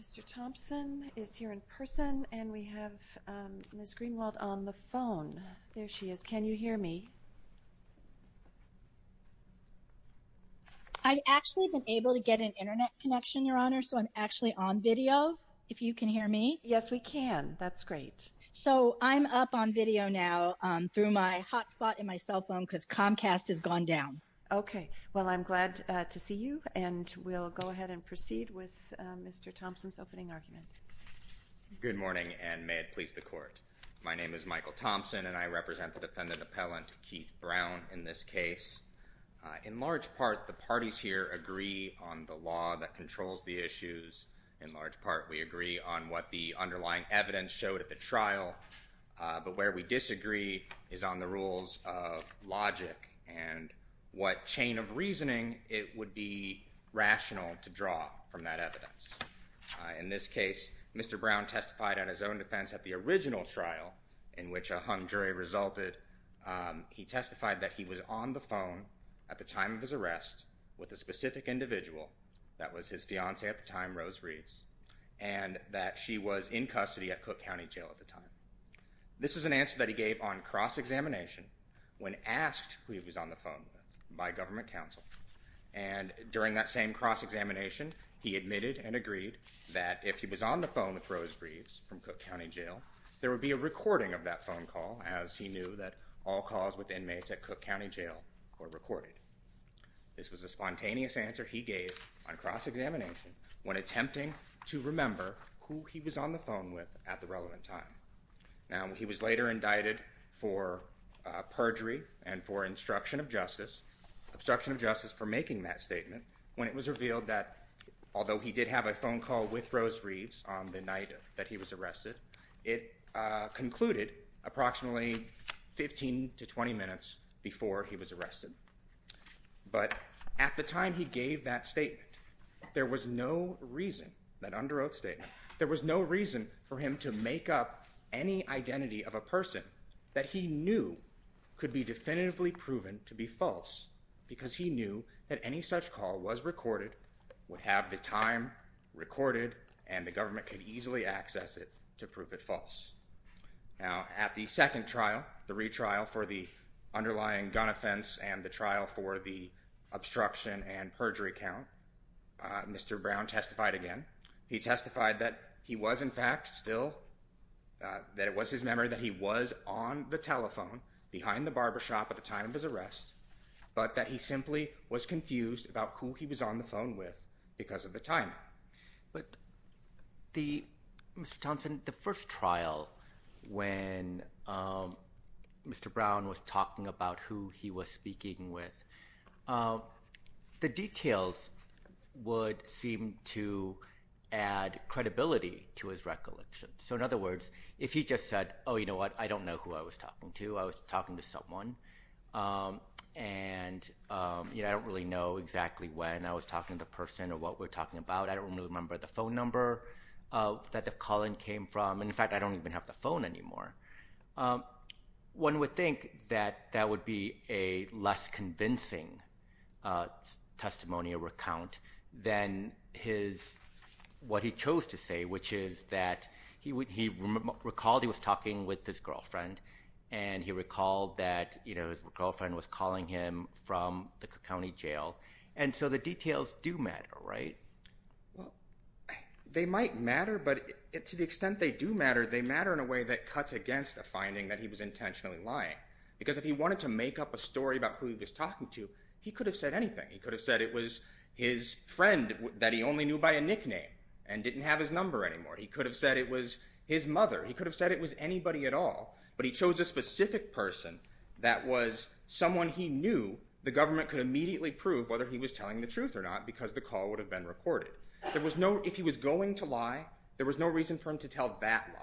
Mr. Thompson is here in person and we have Ms. Greenwald on the phone. There she is. Can you hear me? I've actually been able to get an internet connection, Your Honor, so I'm actually on video, if you can hear me. Yes, we can. That's great. So I'm up on video now through my hotspot in my cell phone because Comcast has gone down. Okay. Well, I'm glad to see you and we'll go ahead and proceed with Mr. Thompson's opening argument. Good morning and may it please the Court. My name is Michael Thompson and I represent the defendant appellant, Keith Brown, in this case. In large part, the parties here agree on the law that controls the issues. In large part, we agree on what the underlying evidence showed at the trial. But where we disagree is on the rules of logic and what chain of reasoning it would be rational to draw from that evidence. In this case, Mr. Brown testified on his own defense at the original trial in which a hung jury resulted. He testified that he was on the phone at the time of his arrest with a specific individual. That was his fiancee at the time, Rose Reeves, and that she was in custody at Cook County Jail at the time. This is an answer that he gave on cross-examination when asked who he was on the phone with by government counsel. And during that same cross-examination, he admitted and agreed that if he was on the phone with Rose Reeves from Cook County Jail, there would be a recording of that phone call as he knew that all calls with inmates at Cook County Jail were recorded. This was a spontaneous answer he gave on cross-examination when attempting to remember who he was on the phone with at the relevant time. Now, he was later indicted for perjury and for obstruction of justice. He was for making that statement when it was revealed that although he did have a phone call with Rose Reeves on the night that he was arrested, it concluded approximately 15 to 20 minutes before he was arrested. But at the time he gave that statement, there was no reason, that under oath statement, there was no reason for him to make up any identity of a person that he knew could be definitively proven to be false because he knew that any such call was recorded, would have the time recorded, and the government could easily access it to prove it false. Now, at the second trial, the retrial for the underlying gun offense and the trial for the obstruction and perjury count, Mr. Brown testified again. He testified that he was in fact still, that it was his memory that he was on the telephone behind the barbershop at the time of his arrest, but that he simply was confused about who he was on the phone with because of the timing. But Mr. Thompson, the first trial when Mr. Brown was talking about who he was speaking with, the details would seem to add credibility to his recollection. So in other words, if he just said, oh, you know what, I don't know who I was talking to. I was talking to someone, and I don't really know exactly when I was talking to the person or what we were talking about. I don't remember the phone number that the calling came from. In fact, I don't even have the phone anymore. One would think that that would be a less convincing testimony or recount than what he chose to say, which is that he recalled he was talking with his girlfriend, and he recalled that his girlfriend was calling him from the county jail. And so the details do matter, right? Well, they might matter, but to the extent they do matter, they matter in a way that cuts against the finding that he was intentionally lying because if he wanted to make up a story about who he was talking to, he could have said anything. He could have said it was his friend that he only knew by a nickname and didn't have his number anymore. He could have said it was his mother. He could have said it was anybody at all. But he chose a specific person that was someone he knew the government could immediately prove whether he was telling the truth or not because the call would have been recorded. If he was going to lie, there was no reason for him to tell that lie.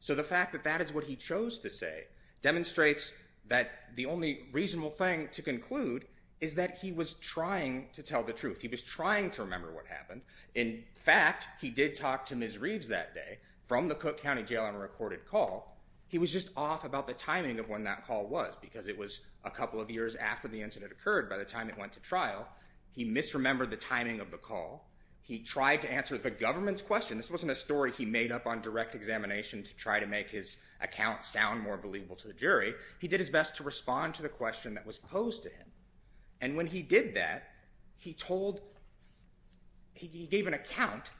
So the fact that that is what he chose to say demonstrates that the only reasonable thing to conclude is that he was trying to tell the truth. He was trying to remember what happened. In fact, he did talk to Ms. Reeves that day from the Cook County Jail on a recorded call. He was just off about the timing of when that call was because it was a couple of years after the incident occurred by the time it went to trial. He misremembered the timing of the call. He tried to answer the government's question. This wasn't a story he made up on direct examination to try to make his account sound more believable to the jury. He did his best to respond to the question that was posed to him. And when he did that, he gave an account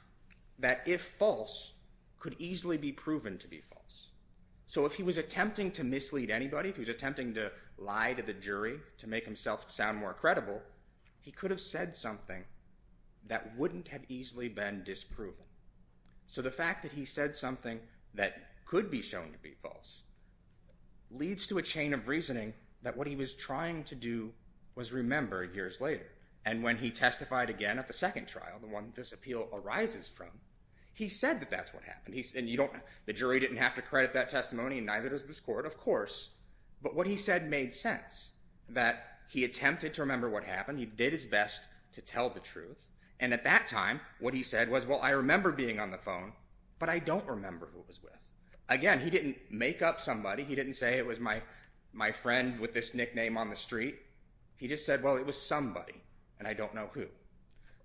that if false, could easily be proven to be false. So if he was attempting to mislead anybody, if he was attempting to lie to the jury to make himself sound more credible, he could have said something that wouldn't have easily been disproven. So the fact that he said something that could be shown to be false leads to a chain of reasoning that what he was trying to do was remember years later. And when he testified again at the second trial, the one this appeal arises from, he said that that's what happened. And the jury didn't have to credit that testimony and neither does this court, of course. But what he said made sense, that he attempted to remember what happened. He did his best to tell the truth. And at that time, what he said was, well, I remember being on the phone, but I don't remember who it was with. Again, he didn't make up somebody. He didn't say it was my friend with this nickname on the street. He just said, well, it was somebody, and I don't know who.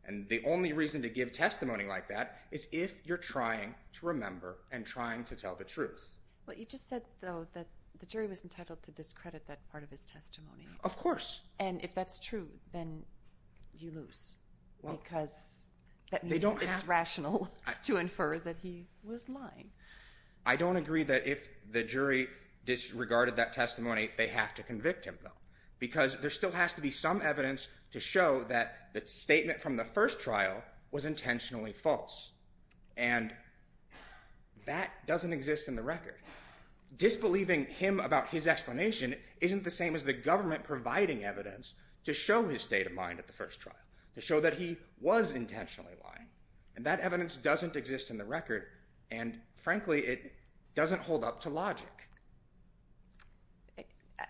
And the only reason to give testimony like that is if you're trying to remember and trying to tell the truth. Well, you just said, though, that the jury was entitled to discredit that part of his testimony. Of course. And if that's true, then you lose because that means it's rational to infer that he was lying. I don't agree that if the jury disregarded that testimony, they have to convict him, though, because there still has to be some evidence to show that the statement from the first trial was intentionally false. And that doesn't exist in the record. Disbelieving him about his explanation isn't the same as the government providing evidence to show his state of mind at the first trial, to show that he was intentionally lying. And that evidence doesn't exist in the record, and frankly, it doesn't hold up to logic.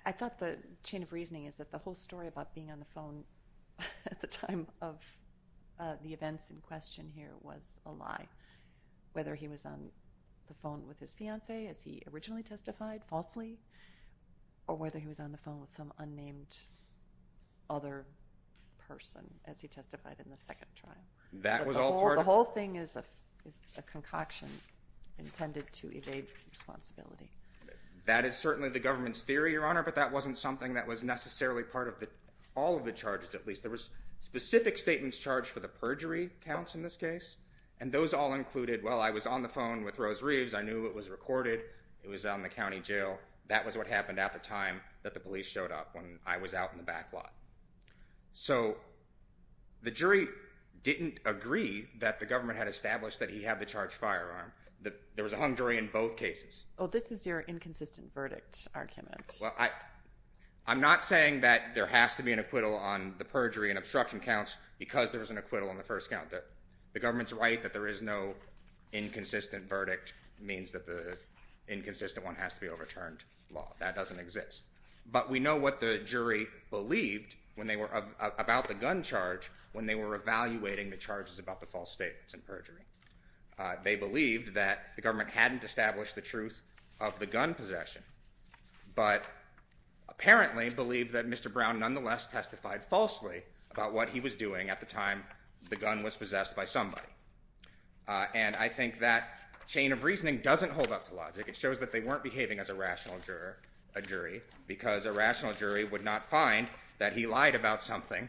I thought the chain of reasoning is that the whole story about being on the phone at the time of the events in question here was a lie, whether he was on the phone with his fiancée, as he originally testified, falsely, or whether he was on the phone with some unnamed other person, as he testified in the second trial. That was all part of it? The whole thing is a concoction intended to evade responsibility. That is certainly the government's theory, Your Honor, but that wasn't something that was necessarily part of all of the charges, at least. There was specific statements charged for the perjury counts in this case, and those all included, well, I was on the phone with Rose Reeves. I knew it was recorded. It was on the county jail. That was what happened at the time that the police showed up when I was out in the back lot. So the jury didn't agree that the government had established that he had the charged firearm. There was a hung jury in both cases. Oh, this is your inconsistent verdict argument. Well, I'm not saying that there has to be an acquittal on the perjury and obstruction counts because there was an acquittal on the first count. The government's right that there is no inconsistent verdict means that the inconsistent one has to be overturned. That doesn't exist. But we know what the jury believed about the gun charge when they were evaluating the charges about the false statements and perjury. They believed that the government hadn't established the truth of the gun possession but apparently believed that Mr. Brown nonetheless testified falsely about what he was doing at the time the gun was possessed by somebody. And I think that chain of reasoning doesn't hold up to logic. It shows that they weren't behaving as a rational jury because a rational jury would not find that he lied about something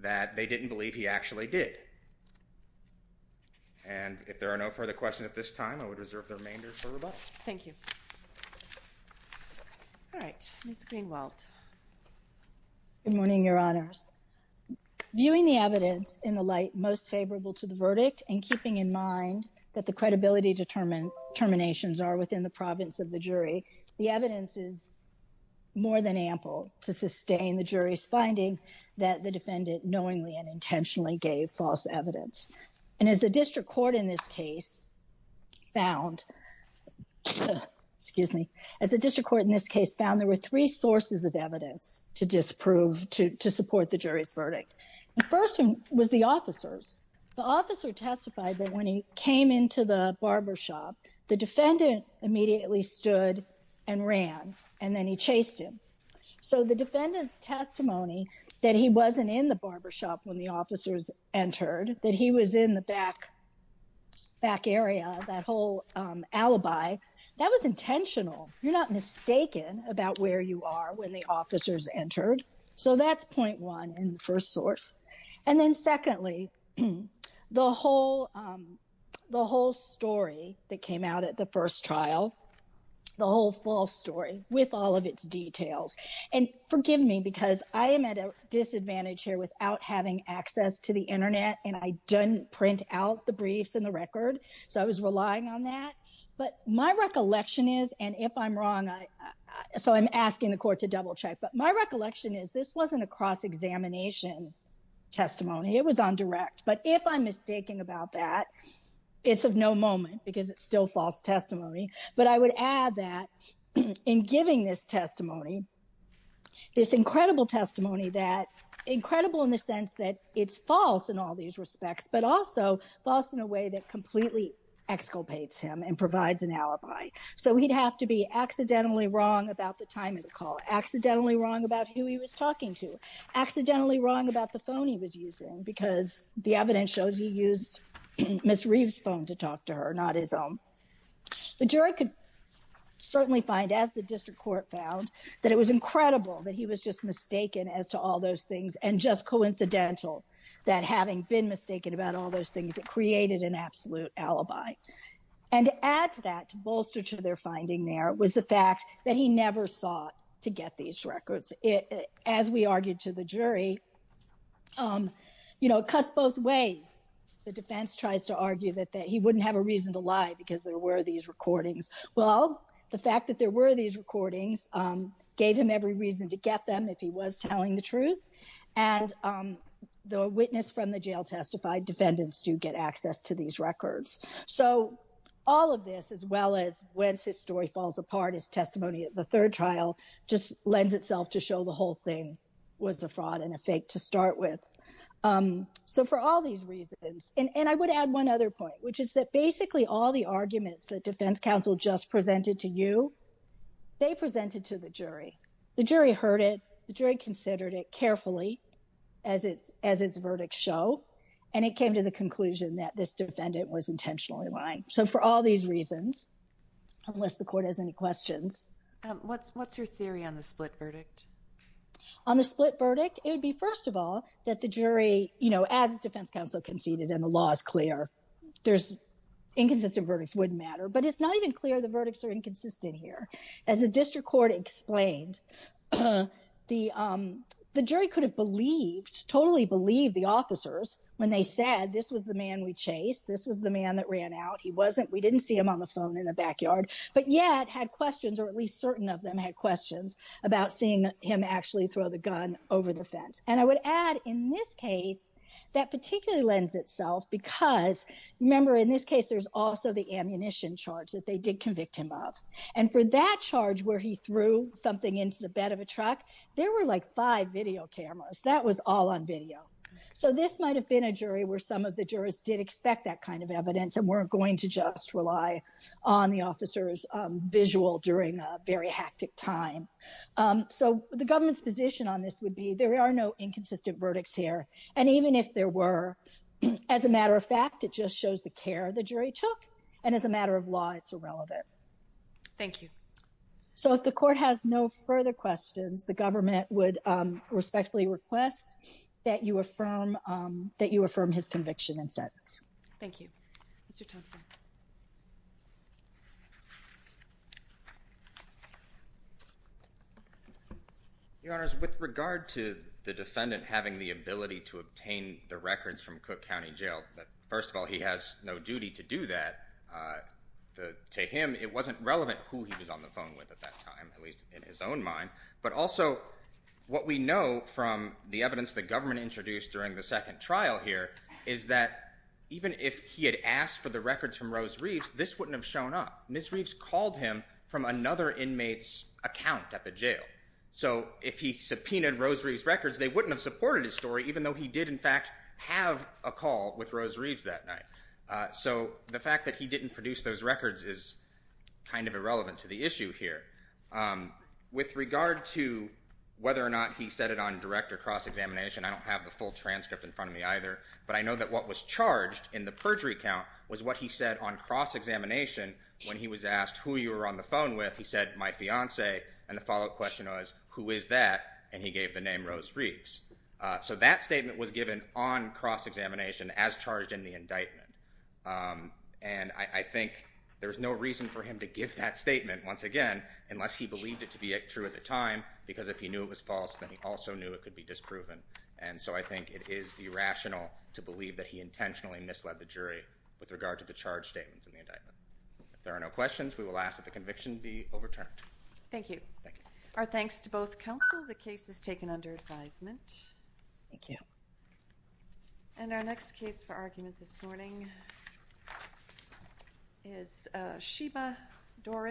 that they didn't believe he actually did. And if there are no further questions at this time, I would reserve the remainder for rebuttal. Thank you. All right, Ms. Greenwald. Good morning, Your Honors. Viewing the evidence in the light most favorable to the verdict and keeping in mind that the credibility determinations are within the province of the jury, the evidence is more than ample to sustain the jury's finding that the defendant knowingly and intentionally gave false evidence. And as the district court in this case found—excuse me. As the district court in this case found, there were three sources of evidence to disprove, to support the jury's verdict. The first one was the officers. The officer testified that when he came into the barbershop, the defendant immediately stood and ran, and then he chased him. So the defendant's testimony that he wasn't in the barbershop when the officers entered, that he was in the back area, that whole alibi, that was intentional. You're not mistaken about where you are when the officers entered. So that's point one in the first source. And then secondly, the whole story that came out at the first trial, the whole false story with all of its details. And forgive me because I am at a disadvantage here without having access to the Internet, and I didn't print out the briefs and the record, so I was relying on that. But my recollection is, and if I'm wrong, so I'm asking the court to double-check. But my recollection is, this wasn't a cross-examination testimony. It was on direct. But if I'm mistaken about that, it's of no moment because it's still false testimony. But I would add that in giving this testimony, this incredible testimony that, incredible in the sense that it's false in all these respects, but also false in a way that completely exculpates him and provides an alibi. So he'd have to be accidentally wrong about the time of the call, accidentally wrong about who he was talking to, accidentally wrong about the phone he was using because the evidence shows he used Ms. Reeves' phone to talk to her, not his own. The jury could certainly find, as the district court found, that it was incredible that he was just mistaken as to all those things and just coincidental that having been mistaken about all those things, it created an absolute alibi. And to add to that, to bolster to their finding there, was the fact that he never sought to get these records. As we argued to the jury, you know, it cuts both ways. The defense tries to argue that he wouldn't have a reason to lie because there were these recordings. Well, the fact that there were these recordings gave him every reason to get them if he was telling the truth. And though a witness from the jail testified, defendants do get access to these records. So all of this, as well as when his story falls apart as testimony at the third trial, just lends itself to show the whole thing was a fraud and a fake to start with. So for all these reasons, and I would add one other point, which is that basically all the arguments that defense counsel just presented to you, they presented to the jury. The jury heard it, the jury considered it carefully as its verdict show, and it came to the conclusion that this defendant was intentionally lying. So for all these reasons, unless the court has any questions. What's your theory on the split verdict? On the split verdict, it would be, first of all, that the jury, you know, as defense counsel conceded and the law is clear, inconsistent verdicts wouldn't matter. But it's not even clear the verdicts are inconsistent here. As a district court explained, the jury could have believed, totally believed the officers when they said this was the man we chased, this was the man that ran out. He wasn't, we didn't see him on the phone in the backyard, but yet had questions, or at least certain of them had questions about seeing him actually throw the gun over the fence. And I would add in this case, that particularly lends itself because remember, in this case, there's also the ammunition charge that they did convict him of. And for that charge where he threw something into the bed of a truck, there were like five video cameras. That was all on video. So this might have been a jury where some of the jurors did expect that kind of evidence and weren't going to just rely on the officer's visual during a very hectic time. So the government's position on this would be there are no inconsistent verdicts here. And even if there were, as a matter of fact, it just shows the care the jury took. And as a matter of law, it's irrelevant. Thank you. So if the court has no further questions, the government would respectfully request that you affirm his conviction and sentence. Thank you. Mr. Thompson. Your Honor, with regard to the defendant having the ability to obtain the records from Cook County Jail, first of all, he has no duty to do that. To him, it wasn't relevant who he was on the phone with at that time, at least in his own mind. But also what we know from the evidence the government introduced during the second trial here is that even if he had asked for the records from Rose Reeves, this wouldn't have shown up. Ms. Reeves called him from another inmate's account at the jail. So if he subpoenaed Rose Reeves' records, they wouldn't have supported his story even though he did, in fact, have a call with Rose Reeves that night. So the fact that he didn't produce those records is kind of irrelevant to the issue here. With regard to whether or not he said it on direct or cross-examination, I don't have the full transcript in front of me either, but I know that what was charged in the perjury count was what he said on cross-examination when he was asked who you were on the phone with. He said, my fiancée. And the follow-up question was, who is that? And he gave the name Rose Reeves. So that statement was given on cross-examination as charged in the indictment. And I think there's no reason for him to give that statement, once again, unless he believed it to be true at the time, because if he knew it was false, then he also knew it could be disproven. And so I think it is irrational to believe that he intentionally misled the jury with regard to the charge statements in the indictment. If there are no questions, we will ask that the conviction be overturned. Thank you. Thank you. Our thanks to both counsel. The case is taken under advisement. Thank you. And our next case for argument this morning is Sheba Doris.